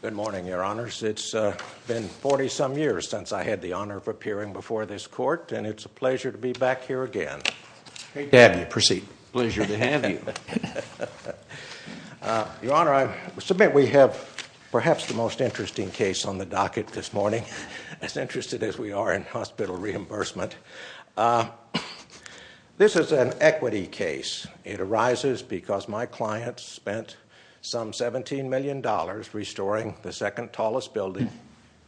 Good morning, Your Honors. It's been 40-some years since I had the honor of appearing before this Court, and it's a pleasure to be back here again. Pleasure to have you. Your Honor, I submit we have perhaps the most interesting case on the docket this morning, as interested as we are in hospital reimbursement. This is an equity case. It arises because my client spent some $17 million restoring the second tallest building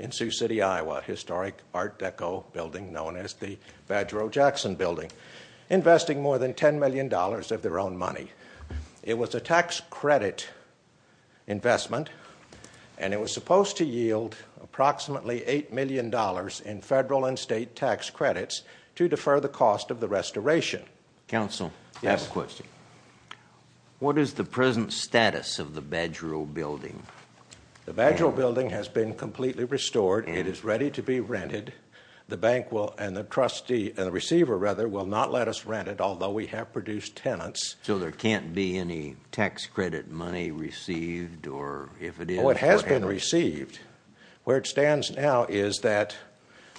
in Sioux City, Iowa, a historic Art Deco building known as the Badger O. Jackson Building, investing more than $10 million of their own money. It was a tax credit investment, and it was in federal and state tax credits to defer the cost of the restoration. Counsel, I have a question. What is the present status of the Badger O. building? The Badger O. building has been completely restored. It is ready to be rented. The bank will, and the trustee, and the receiver, rather, will not let us rent it, although we have produced tenants. So there can't be any tax credit money received, or if it is... Where it stands now is that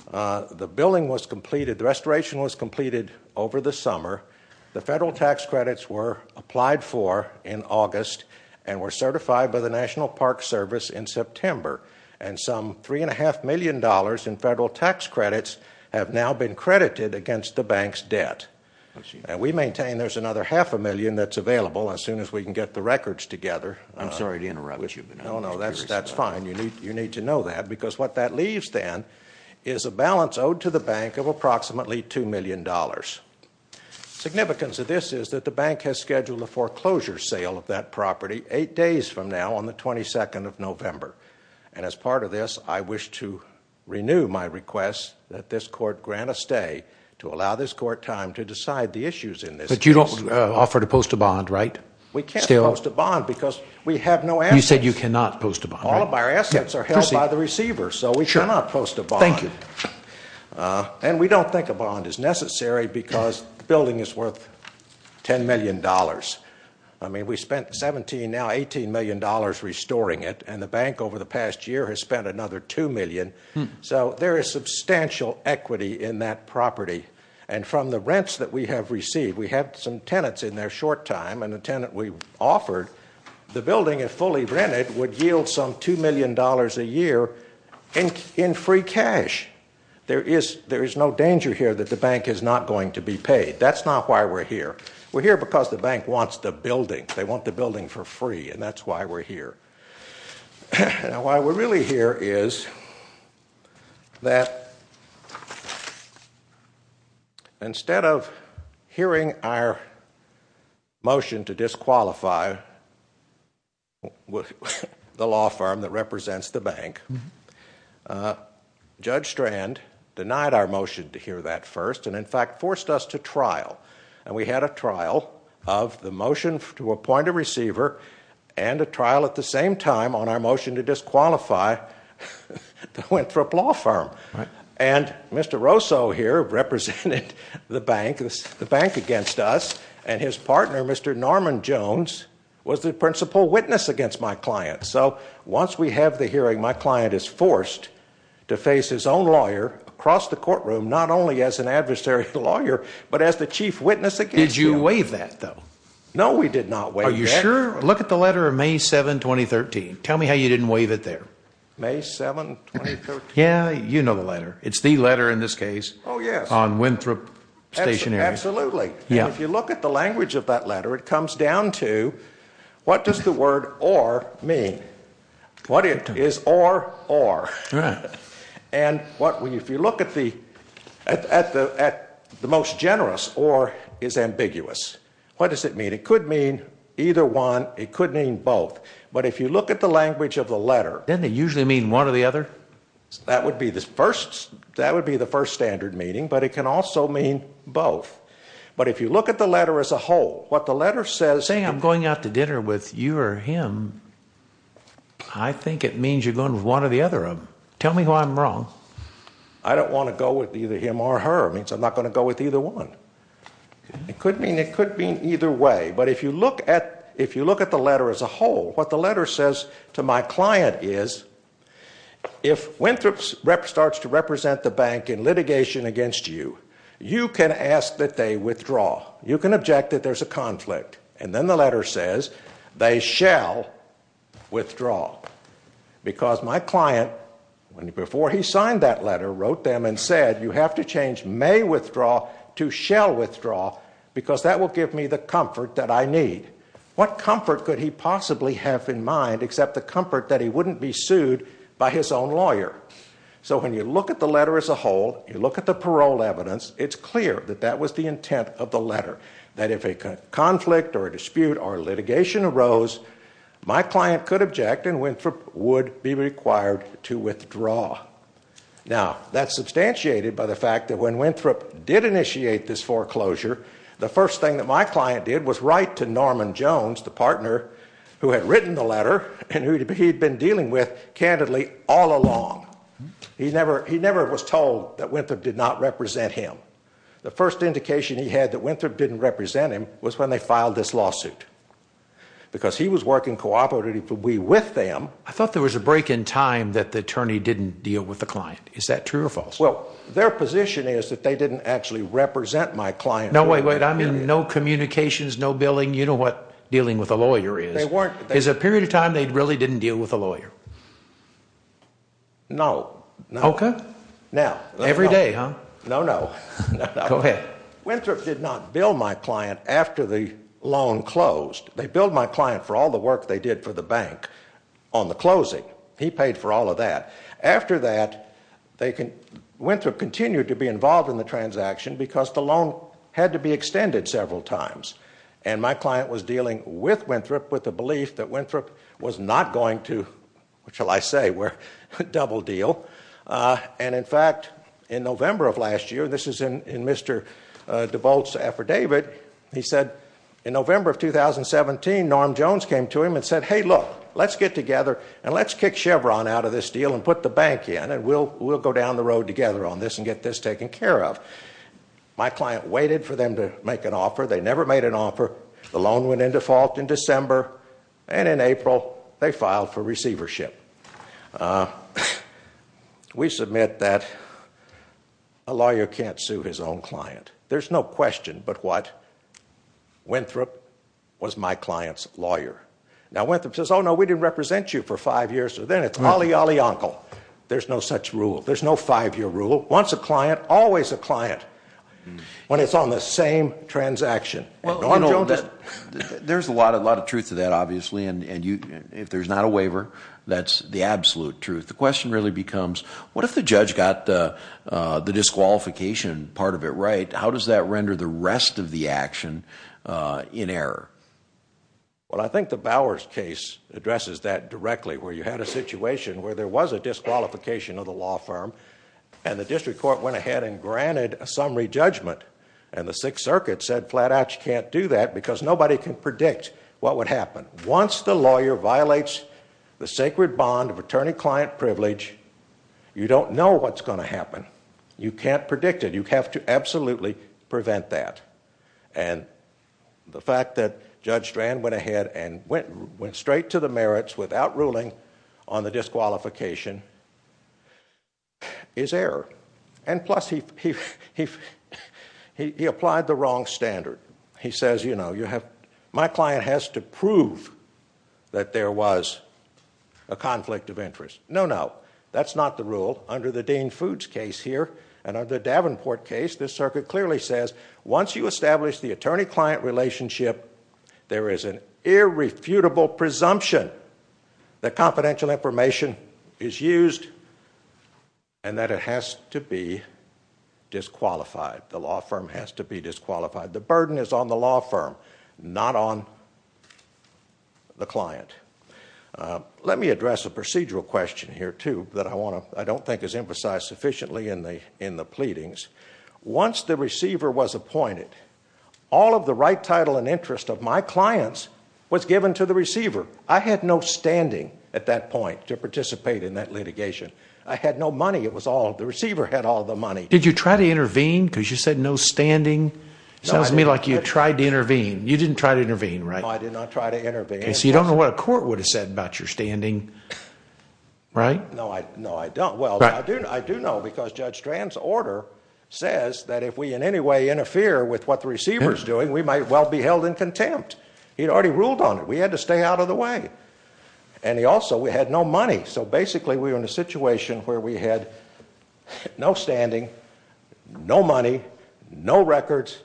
the building was completed, the restoration was completed over the summer. The federal tax credits were applied for in August and were certified by the National Park Service in September. And some $3.5 million in federal tax credits have now been credited against the bank's debt. And we maintain there's another half a million that's available as soon as we can get the records together. I'm sorry to interrupt you. No, no, that's fine. You need to know that, because what that leaves, then, is a balance owed to the bank of approximately $2 million. Significance of this is that the bank has scheduled a foreclosure sale of that property eight days from now on the 22nd of November. And as part of this, I wish to renew my request that this court grant a stay to allow this court time to decide the issues in this case. But you don't offer to post a bond, right, still? We can't post a bond because we have no answer. You said you cannot post a bond, right? All of our assets are held by the receiver, so we cannot post a bond. Thank you. And we don't think a bond is necessary because the building is worth $10 million. I mean, we spent 17, now $18 million restoring it, and the bank over the past year has spent another $2 million. So there is substantial equity in that property. And from the rents that we have received, we had some tenants in there short time, and the tenant we offered, the building, if fully rented, would yield some $2 million a year in free cash. There is no danger here that the bank is not going to be paid. That's not why we're here. We're here because the bank wants the building. They want the building for free, and that's why we're here. And why we're really here is that instead of hearing our motion to disqualify the law firm that represents the bank, Judge Strand denied our motion to hear that first and, in fact, forced us to trial. And we had a trial of the motion to appoint a receiver and a trial at the same time on motion to disqualify the Winthrop law firm. And Mr. Rosso here represented the bank against us, and his partner, Mr. Norman Jones, was the principal witness against my client. So once we have the hearing, my client is forced to face his own lawyer across the courtroom, not only as an adversary lawyer, but as the chief witness against him. Did you waive that, though? No, we did not waive that. Are you sure? Look at the letter of May 7, 2013. Tell me how you didn't waive it there. May 7, 2013. Yeah, you know the letter. It's the letter in this case on Winthrop stationery. Absolutely. And if you look at the language of that letter, it comes down to what does the word or mean? What is or, or? And if you look at the most generous, or is ambiguous. What does it mean? It could mean either one. It could mean both. But if you look at the language of the letter. Doesn't it usually mean one or the other? That would be the first, that would be the first standard meaning, but it can also mean both. But if you look at the letter as a whole, what the letter says. Saying I'm going out to dinner with you or him, I think it means you're going with one or the other of them. Tell me why I'm wrong. I don't want to go with either him or her. It means I'm not going to go with either one. It could mean, it could mean either way. But if you look at, if you look at the letter as a whole, what the letter says to my client is, if Winthrop starts to represent the bank in litigation against you, you can ask that they withdraw. You can object that there's a conflict. And then the letter says they shall withdraw. Because my client, before he signed that letter, wrote them and said, you have to change may withdraw to shall withdraw because that will give me the comfort that I need. What comfort could he possibly have in mind except the comfort that he wouldn't be sued by his own lawyer? So when you look at the letter as a whole, you look at the parole evidence, it's clear that that was the intent of the letter. That if a conflict or a dispute or litigation arose, my client could object and Winthrop would be required to withdraw. Now, that's substantiated by the fact that when Winthrop did initiate this foreclosure, the first thing that my client did was write to Norman Jones, the partner who had written the letter and who he'd been dealing with candidly all along. He never was told that Winthrop did not represent him. The first indication he had that Winthrop didn't represent him was when they filed this lawsuit. Because he was working cooperatively with them. I thought there was a break in time that the attorney didn't deal with the client. Is that true or false? Well, their position is that they didn't actually represent my client. I mean, no communications, no billing, you know what dealing with a lawyer is. Is a period of time they really didn't deal with a lawyer? No. Okay. Every day, huh? No, no. Go ahead. Winthrop did not bill my client after the loan closed. They billed my client for all the work they did for the bank on the closing. He paid for all of that. After that, Winthrop continued to be involved in the transaction because the loan had to be extended several times. And my client was dealing with Winthrop with the belief that Winthrop was not going to, what shall I say, a double deal. And in fact, in November of last year, this is in Mr. DeVolt's affidavit, he said, in November of 2017, Norm Jones came to him and said, hey, look, let's get together and let's kick Chevron out of this deal and put the bank in. And we'll go down the road together on this and get this taken care of. My client waited for them to make an offer. They never made an offer. The loan went into fault in December. And in April, they filed for receivership. We submit that a lawyer can't sue his own client. There's no question but what? Winthrop was my client's lawyer. Now, Winthrop says, oh, no, we didn't represent you for five years. So then it's olly olly, uncle. There's no such rule. There's no five-year rule. Once a client, always a client, when it's on the same transaction. There's a lot of truth to that, obviously. And if there's not a waiver, that's the absolute truth. The question really becomes, what if the judge got the disqualification part of it right? How does that render the rest of the action in error? Well, I think the Bowers case addresses that directly, where you had a situation where there was a disqualification of the law firm. And the district court went ahead and granted a summary judgment. And the Sixth Circuit said, flat out, you can't do that, because nobody can predict what would happen. Once the lawyer violates the sacred bond of attorney-client privilege, you don't know what's going to happen. You can't predict it. You have to absolutely prevent that. And the fact that Judge Strand went ahead and went straight to the merits without ruling on the disqualification is error. And plus, he applied the wrong standard. He says, my client has to prove that there was a conflict of interest. No, no. That's not the rule. Under the Dean Foods case here, and under the Davenport case, this circuit clearly says, once you establish the attorney-client relationship, there is an irrefutable presumption that confidential information is used and that it has to be disqualified. The law firm has to be disqualified. The burden is on the law firm, not on the client. Let me address a procedural question here, too, that I don't think is emphasized sufficiently in the pleadings. Once the receiver was appointed, all of the right title and interest of my clients was given to the receiver. I had no standing at that point to participate in that litigation. I had no money. It was all, the receiver had all the money. Did you try to intervene because you said no standing? Sounds to me like you tried to intervene. You didn't try to intervene, right? No, I did not try to intervene. So you don't know what a court would have said about your standing, right? No, I don't. Well, I do know because Judge Strand's order says that if we in any way interfere with what the receiver is doing, we might well be held in contempt. He'd already ruled on it. We had to stay out of the way. And he also, we had no money. So basically, we were in a situation where we had no standing, no money, no records,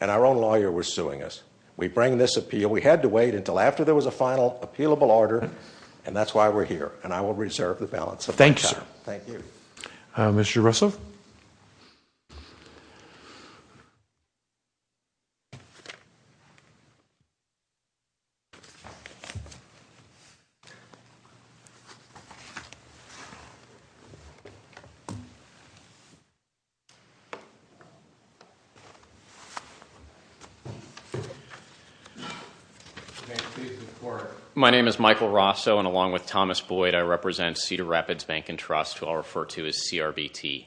and our own lawyer was suing us. We bring this appeal. We had to wait until after there was a final, appealable order, and that's why we're here. And I will reserve the balance of my time. Thank you, sir. Thank you. Mr. Russell? Thank you, Mr. Court. My name is Michael Rosso, and along with Thomas Boyd, I represent Cedar Rapids Bank and Trust, who I'll refer to as CRBT.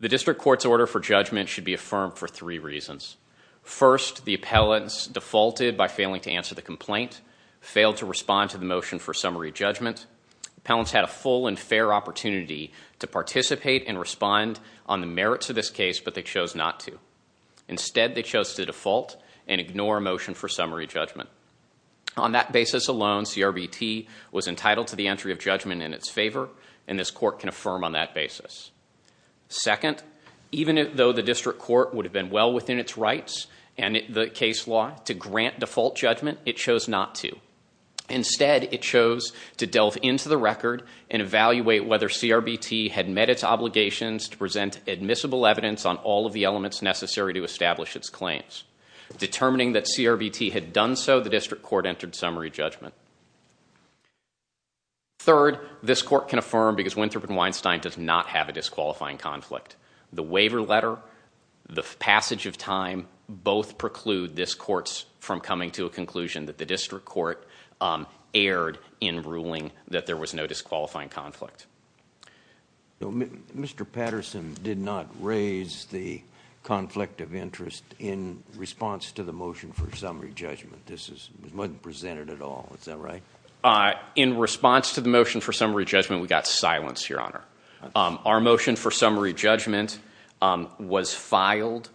The district court's order for judgment should be affirmed for three reasons. First, the appellants defaulted by failing to answer the complaint, failed to respond to the motion for summary judgment. Appellants had a full and fair opportunity to participate and respond on the merits of this case, but they chose not to. Instead, they chose to default and ignore a motion for summary judgment. On that basis alone, CRBT was entitled to the entry of judgment in its favor, and this court can affirm on that basis. Second, even though the district court would have been well within its rights and the case law to grant default judgment, it chose not to. Instead, it chose to delve into the record and evaluate whether CRBT had met its obligations to present admissible evidence on all of the elements necessary to establish its claims. Determining that CRBT had done so, the district court entered summary judgment. Third, this court can affirm because Winthrop and Weinstein does not have a disqualifying conflict. The waiver letter, the passage of time, both preclude this court's from coming to a conclusion that the district court erred in ruling that there was no disqualifying conflict. Mr. Patterson did not raise the conflict of interest in response to the motion for summary judgment. This is, it wasn't presented at all. Is that right? In response to the motion for summary judgment, we got silence, Your Honor. Our motion for summary judgment was filed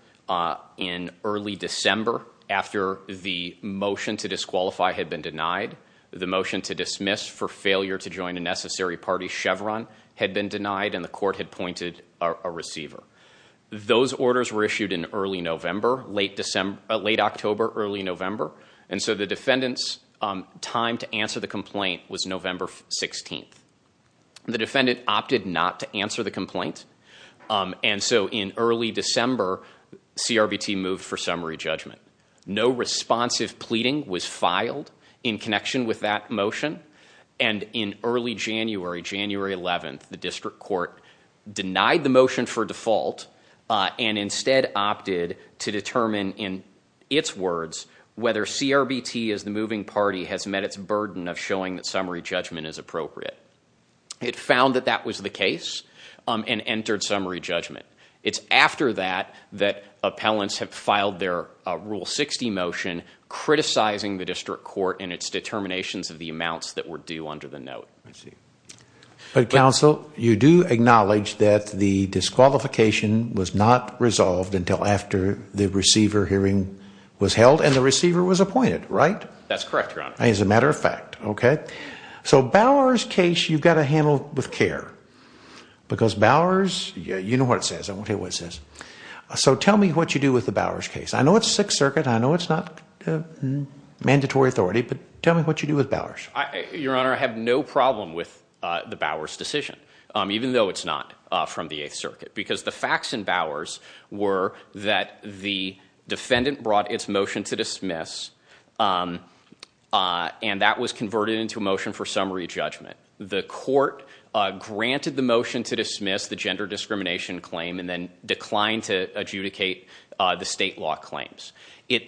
in early December after the motion to disqualify had been denied, the motion to dismiss for failure to join a necessary party, Chevron, had been denied, and the court had pointed a receiver. Those orders were issued in early November, late October, early November, and so the defendant's time to answer the complaint was November 16th. The defendant opted not to answer the complaint, and so in early December, CRBT moved for summary judgment. No responsive pleading was filed in connection with that motion, and in early January, January 11th, the district court denied the motion for default and instead opted to determine in its words whether CRBT as the moving party has met its burden of showing that summary judgment is appropriate. It found that that was the case and entered summary judgment. It's after that that appellants have filed their Rule 60 motion criticizing the district court and its determinations of the amounts that were due under the note. I see, but counsel, you do acknowledge that the disqualification was not resolved until after the receiver hearing was held and the receiver was appointed, right? That's correct, your honor. As a matter of fact, okay. So Bowers case, you've got to handle with care because Bowers, you know what it says. I won't tell you what it says. So tell me what you do with the Bowers case. I know it's Sixth Circuit. I know it's not mandatory authority, but tell me what you do with Bowers. Your honor, I have no problem with the Bowers decision, even though it's not from the Eighth Circuit. Because the facts in Bowers were that the defendant brought its motion to dismiss and that was converted into a motion for summary judgment. The court granted the motion to dismiss the gender discrimination claim and then declined to adjudicate the state law claims. It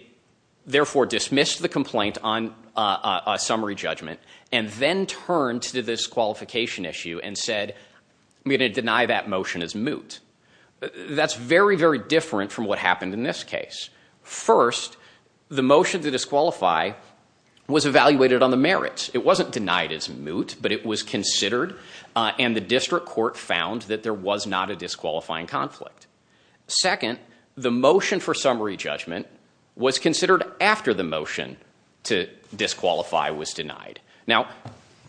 therefore dismissed the complaint on a summary judgment and then turned to the disqualification issue and said, I'm going to deny that motion as moot. That's very, very different from what happened in this case. First, the motion to disqualify was evaluated on the merits. It wasn't denied as moot, but it was considered and the district court found that there was not a disqualifying conflict. Second, the motion for summary judgment was considered after the motion to disqualify was denied. Now,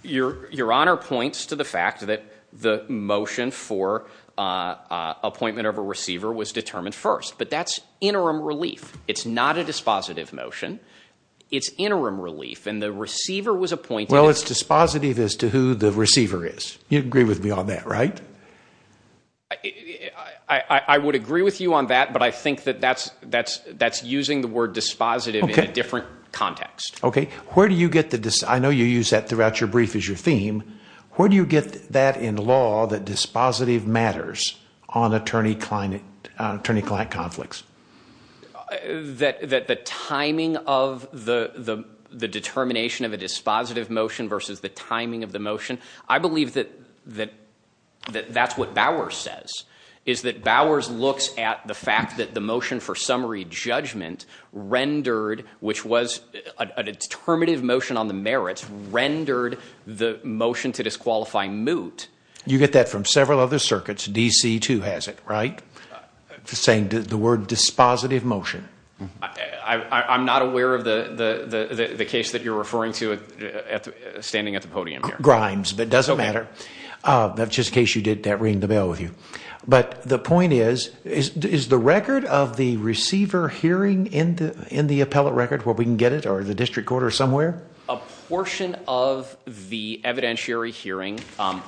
your honor points to the fact that the motion for appointment of a receiver was determined first, but that's interim relief. It's not a dispositive motion. It's interim relief and the receiver was appointed. Well, it's dispositive as to who the receiver is. You agree with me on that, right? I would agree with you on that, but I think that that's using the word dispositive in a different context. Okay. Where do you get the... I know you use that throughout your brief as your theme. Where do you get that in law that dispositive matters on attorney-client conflicts? That the timing of the determination of a dispositive motion versus the timing of the motion. I believe that that's what Bowers says, is that Bowers looks at the fact that the motion for summary judgment rendered, which was a determinative motion on the merits, rendered the motion to disqualify moot. You get that from several other circuits. DC too has it, right? Saying the word dispositive motion. I'm not aware of the case that you're referring to standing at the podium here. Grimes, but it doesn't matter. That's just case you did that ring the bell with you. But the point is, is the record of the receiver hearing in the appellate record where we can get it or the district court or somewhere? A portion of the evidentiary hearing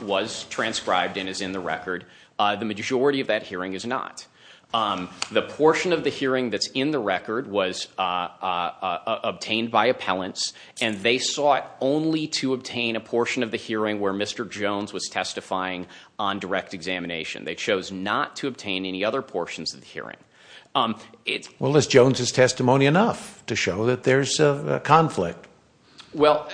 was transcribed and is in the record. The majority of that hearing is not. The portion of the hearing that's in the record was obtained by appellants and they sought only to obtain a portion of the hearing where Mr. Jones was testifying on direct examination. They chose not to obtain any other portions of the hearing. Well, is Jones's testimony enough to show that there's a conflict? Well,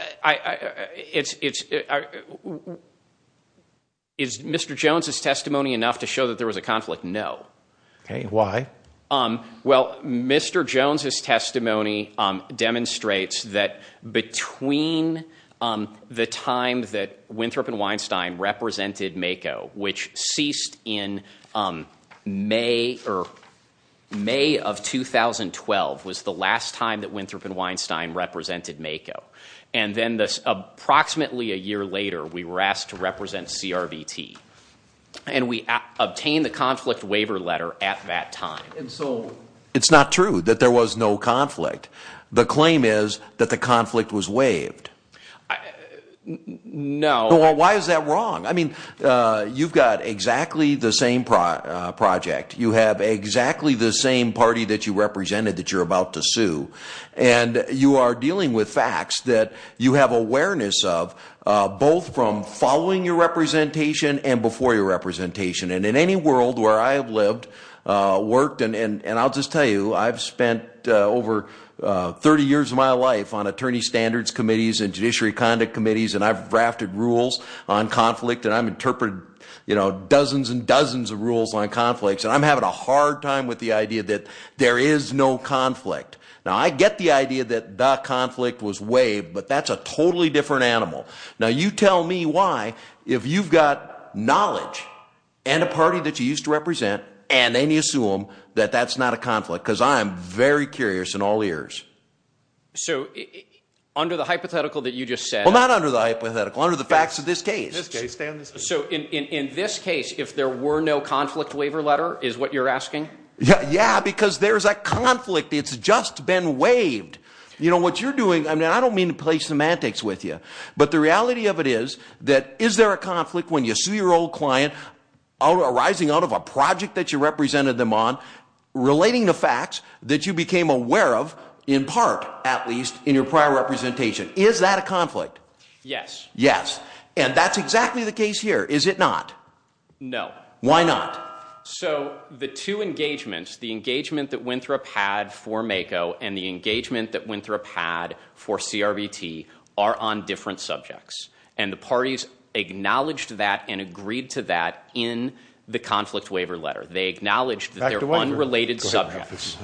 is Mr. Jones's testimony enough to show that there was a conflict? No. Okay, why? Well, Mr. Jones's testimony demonstrates that between the time that Winthrop and Weinstein represented MAKO, which ceased in May of 2012, was the last time that Winthrop and Weinstein represented MAKO. And then approximately a year later, we were asked to represent CRVT. And we obtained the conflict waiver letter at that time. And so it's not true that there was no conflict. The claim is that the conflict was waived. No. Why is that wrong? I mean, you've got exactly the same project. You have exactly the same party that you represented that you're about to sue. And you are dealing with facts that you have awareness of, both from following your representation and before your representation. And in any world where I have lived, worked, and I'll just tell you, I've spent over 30 years of my life on attorney standards committees and judiciary conduct committees, and I've drafted rules on conflict. And I've interpreted dozens and dozens of rules on conflicts. And I'm having a hard time with the idea that there is no conflict. Now, I get the idea that the conflict was waived, but that's a totally different animal. Now, you tell me why, if you've got knowledge and a party that you used to represent, and then you sue them, that that's not a conflict. Because I'm very curious in all ears. So under the hypothetical that you just said... Well, not under the hypothetical, under the facts of this case. This case, Dan, this case. So in this case, if there were no conflict waiver letter, is what you're asking? Yeah, because there's a conflict. It's just been waived. You know, what you're doing, I mean, I don't mean to play semantics with you, but the reality of it is that is there a conflict when you sue your old client arising out of a project that you represented them on, relating the facts that you became aware of, in part, at least, in your prior representation? Is that a conflict? Yes. Yes. And that's exactly the case here. Is it not? No. Why not? So the two engagements, the engagement that went through a pad for MACO, and the engagement that went through a pad for CRBT, are on different subjects. And the parties acknowledged that and agreed to that in the conflict waiver letter. They acknowledged that they're unrelated subjects.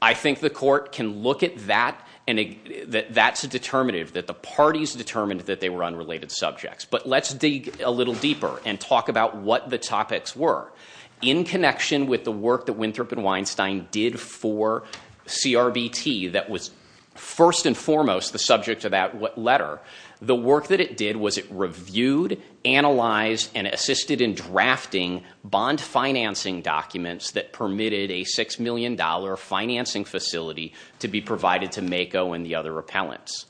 I think the court can look at that, and that's a determinative, that the parties determined that they were unrelated subjects. But let's dig a little deeper and talk about what the topics were. In connection with the work that Winthrop and Weinstein did for CRBT that was, first and foremost, the subject of that letter, the work that it did was it reviewed, analyzed, and assisted in drafting bond financing documents that permitted a $6 million financing facility to be provided to MACO and the other appellants.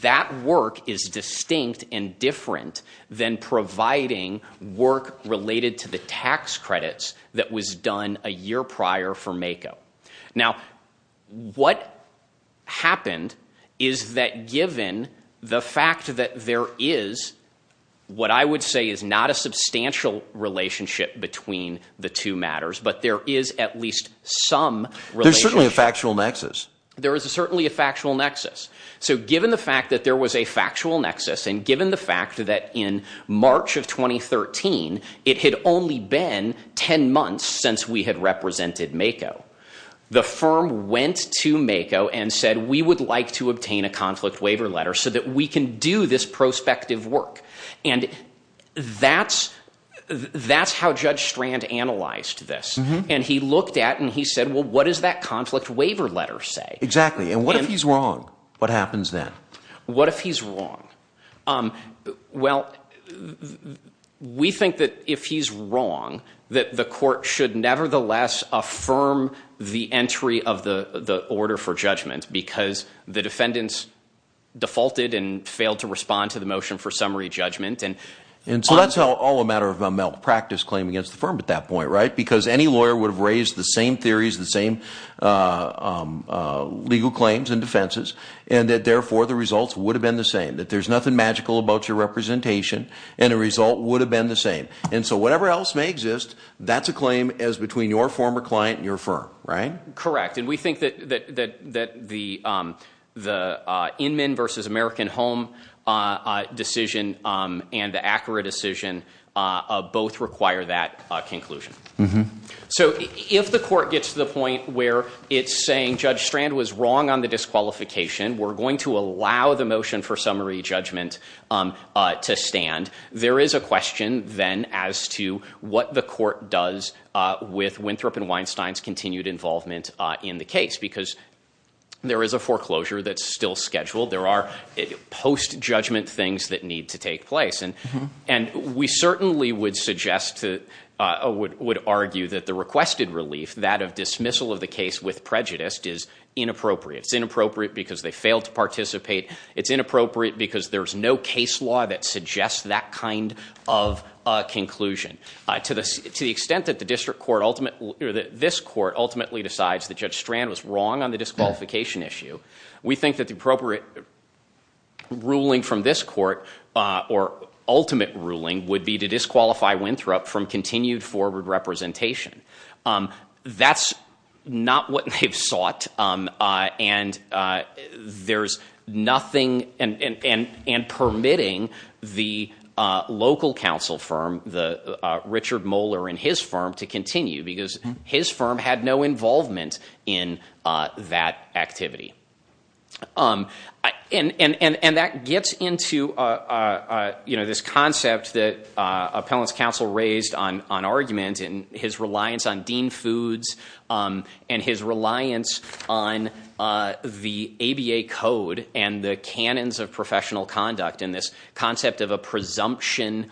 That work is distinct and different than providing work related to the tax credits that was done a year prior for MACO. Now, what happened is that given the fact that there is, what I would say is not a substantial relationship between the two matters, but there is at least some relationship. There's certainly a factual nexus. There is certainly a factual nexus. Given the fact that there was a factual nexus and given the fact that in March of 2013, it had only been 10 months since we had represented MACO, the firm went to MACO and said, we would like to obtain a conflict waiver letter so that we can do this prospective work. That's how Judge Strand analyzed this. He looked at and he said, well, what does that conflict waiver letter say? Exactly. And what if he's wrong? What happens then? What if he's wrong? Well, we think that if he's wrong, that the court should nevertheless affirm the entry of the order for judgment because the defendants defaulted and failed to respond to the motion for summary judgment. And so that's all a matter of a malpractice claim against the firm at that point, right? Because any lawyer would have raised the same theories, the same legal claims and defenses, and that therefore the results would have been the same. That there's nothing magical about your representation, and the result would have been the same. And so whatever else may exist, that's a claim as between your former client and your firm, right? Correct, and we think that the Inman versus American Home decision and the Acura decision both require that conclusion. So if the court gets to the point where it's saying Judge Strand was wrong on the disqualification, we're going to allow the motion for summary judgment to stand. There is a question then as to what the court does with Winthrop and Weinstein's continued involvement in the case. Because there is a foreclosure that's still scheduled. There are post-judgment things that need to take place. And we certainly would argue that the requested relief, that of dismissal of the case with prejudice, is inappropriate. It's inappropriate because they failed to participate. It's inappropriate because there's no case law that suggests that kind of conclusion. To the extent that this court ultimately decides that Judge Strand was wrong on the disqualification issue, we think that the appropriate ruling from this court, or ultimate ruling, would be to disqualify Winthrop from continued forward representation. That's not what they've sought, and there's nothing, and permitting the local council firm, the Richard Moeller and his firm, to continue because his firm had no involvement in that activity. And that gets into this concept that Appellant's counsel raised on argument, and his reliance on Dean Foods, and his reliance on the ABA code, and the canons of professional conduct, and this concept of a presumption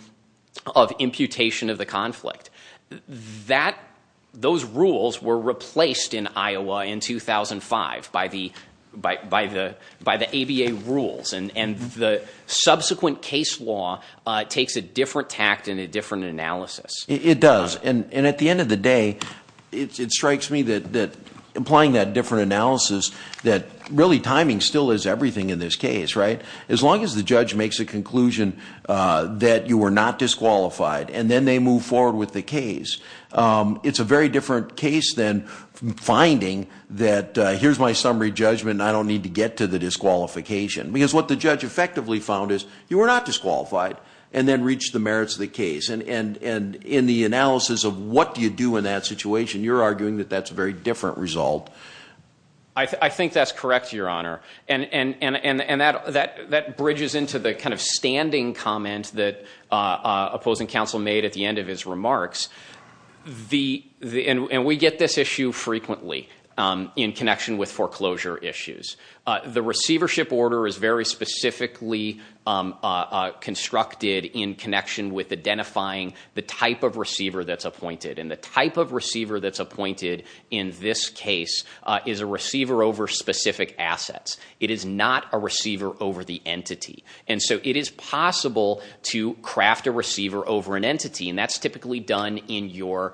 of imputation of the conflict. Those rules were replaced in Iowa in 2005 by the ABA rules. And the subsequent case law takes a different tact and a different analysis. It does, and at the end of the day, it strikes me that applying that different analysis, that really timing still is everything in this case, right? As long as the judge makes a conclusion that you were not disqualified, and then they move forward with the case. It's a very different case than finding that here's my summary judgment, and I don't need to get to the disqualification. Because what the judge effectively found is, you were not disqualified, and then reached the merits of the case. And in the analysis of what do you do in that situation, you're arguing that that's a very different result. I think that's correct, Your Honor. And that bridges into the kind of standing comment that opposing counsel made at the end of his remarks. And we get this issue frequently in connection with foreclosure issues. The receivership order is very specifically constructed in connection with identifying the type of receiver that's appointed. And the type of receiver that's appointed in this case is a receiver over specific assets. It is not a receiver over the entity. And so it is possible to craft a receiver over an entity. And that's typically done in your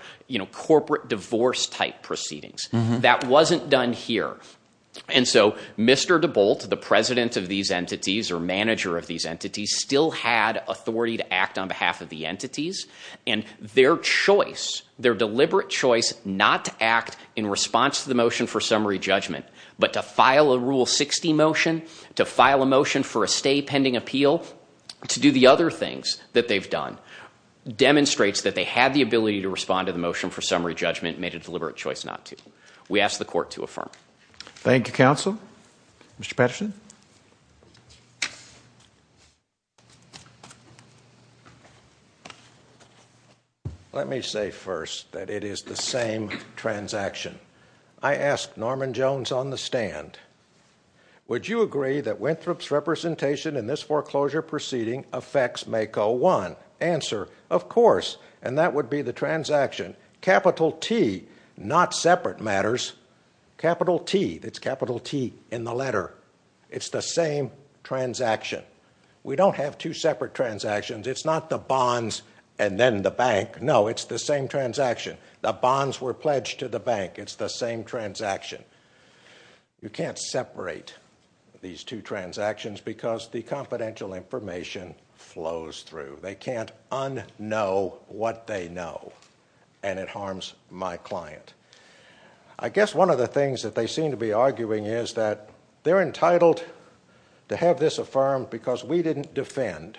corporate divorce-type proceedings. That wasn't done here. And so Mr. DeBolt, the president of these entities, or manager of these entities, still had authority to act on behalf of the entities. And their choice, their deliberate choice not to act in response to the motion for summary judgment, but to file a Rule 60 motion, to file a motion for a stay pending appeal, to do the other things that they've done, demonstrates that they had the ability to respond to the motion for summary judgment and made a deliberate choice not to. We ask the court to affirm. Thank you, counsel. Mr. Patterson? Let me say first that it is the same transaction. I ask Norman Jones on the stand, would you agree that Winthrop's representation in this foreclosure proceeding affects MACO 1? Answer, of course. And that would be the transaction. Capital T, not separate matters. Capital T, that's capital T in the letter. It's the same transaction. We don't have two separate transactions. It's not the bonds and then the bank. No, it's the same transaction. The bonds were pledged to the bank. It's the same transaction. You can't separate these two transactions because the confidential information flows through. They can't unknow what they know. And it harms my client. I guess one of the things that they seem to be arguing is that they're entitled to have this affirmed because we didn't defend.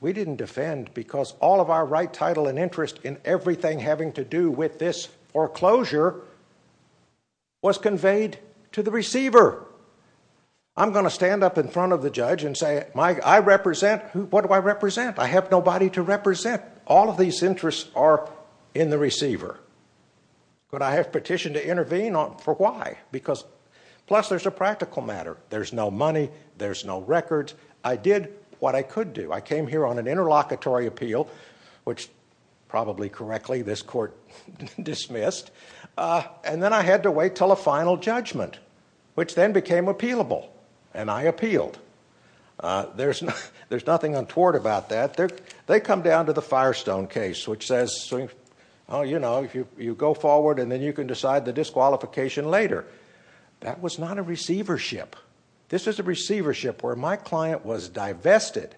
We didn't defend because all of our right, title, and interest in everything having to do with this foreclosure was conveyed to the receiver. I'm going to stand up in front of the judge and say, I represent, what do I represent? I have nobody to represent. All of these interests are in the receiver. But I have petitioned to intervene for why? Because, plus there's a practical matter. There's no money. There's no records. I did what I could do. I came here on an interlocutory appeal, which, probably correctly, this court dismissed. And then I had to wait until a final judgment, which then became appealable. And I appealed. There's nothing untoward about that. They come down to the Firestone case, which says, you know, you go forward and then you can decide the disqualification later. That was not a receivership. This is a receivership where my client was divested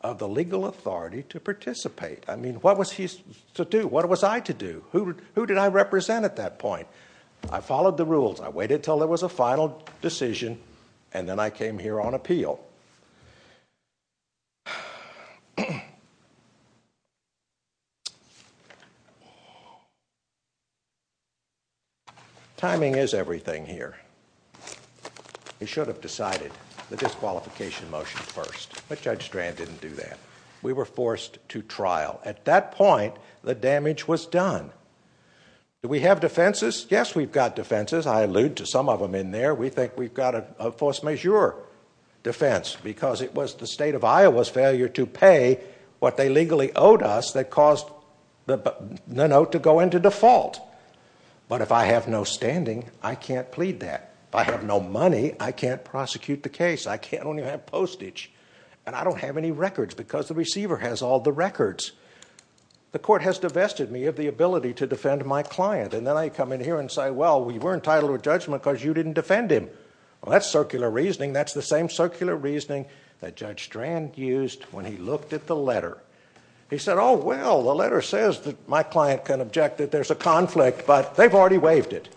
of the legal authority to participate. I mean, what was he to do? What was I to do? Who did I represent at that point? I followed the rules. I waited until there was a final decision, and then I came here on appeal. Timing is everything here. We should have decided the disqualification motion first, but Judge Strand didn't do that. We were forced to trial. At that point, the damage was done. Do we have defenses? Yes, we've got defenses. I allude to some of them in there. We think we've got a force majeure defense because it was the State of Iowa's failure to pay what they legally owed us that caused the note to go into default. But if I have no standing, I can't plead that. If I have no money, I can't prosecute the case. I can't even have postage. And I don't have any records because the receiver has all the records. The court has divested me of the ability to defend my client. And then I come in here and say, well, we were entitled to a judgment because you didn't defend him. Well, that's circular reasoning. That's the same circular reasoning that Judge Strand used when he looked at the letter. He said, oh, well, the letter says that my client can object that there's a conflict, but they've already waived it.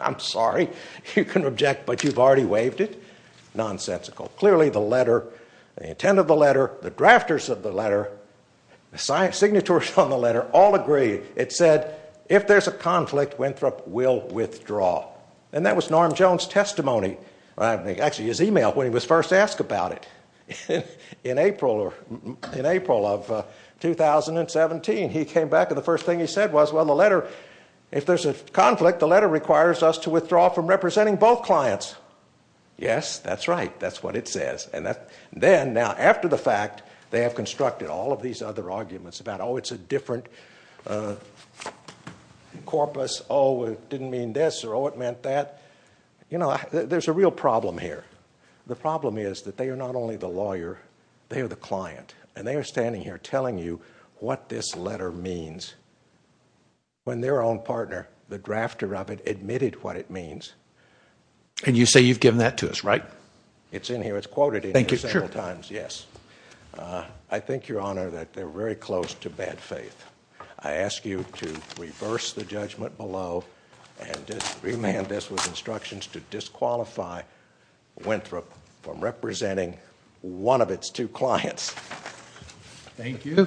I'm sorry. You can object, but you've already waived it. Nonsensical. Clearly the letter, the intent of the letter, the drafters of the letter, the signatories on the letter all agree. It said, if there's a conflict, Winthrop will withdraw. And that was Norm Jones' testimony. Actually, his e-mail when he was first asked about it. In April of 2017, he came back and the first thing he said was, well, the letter, if there's a conflict, the letter requires us to withdraw from representing both clients. Yes, that's right. That's what it says. And then, now, after the fact, they have constructed all of these other arguments about, oh, it's a different corpus. Oh, it didn't mean this or, oh, it meant that. You know, there's a real problem here. The problem is that they are not only the lawyer, they are the client. And they are standing here telling you what this letter means when their own partner, the drafter of it, admitted what it means. And you say you've given that to us, right? It's in here. It's quoted in here several times, yes. I think, Your Honor, that they're very close to bad faith. I ask you to reverse the judgment below and just remand this with instructions to disqualify Winthrop from representing one of its two clients. Thank you.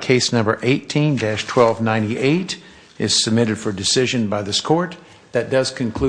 Case number 18-1298 is submitted for decision by this court. That does conclude.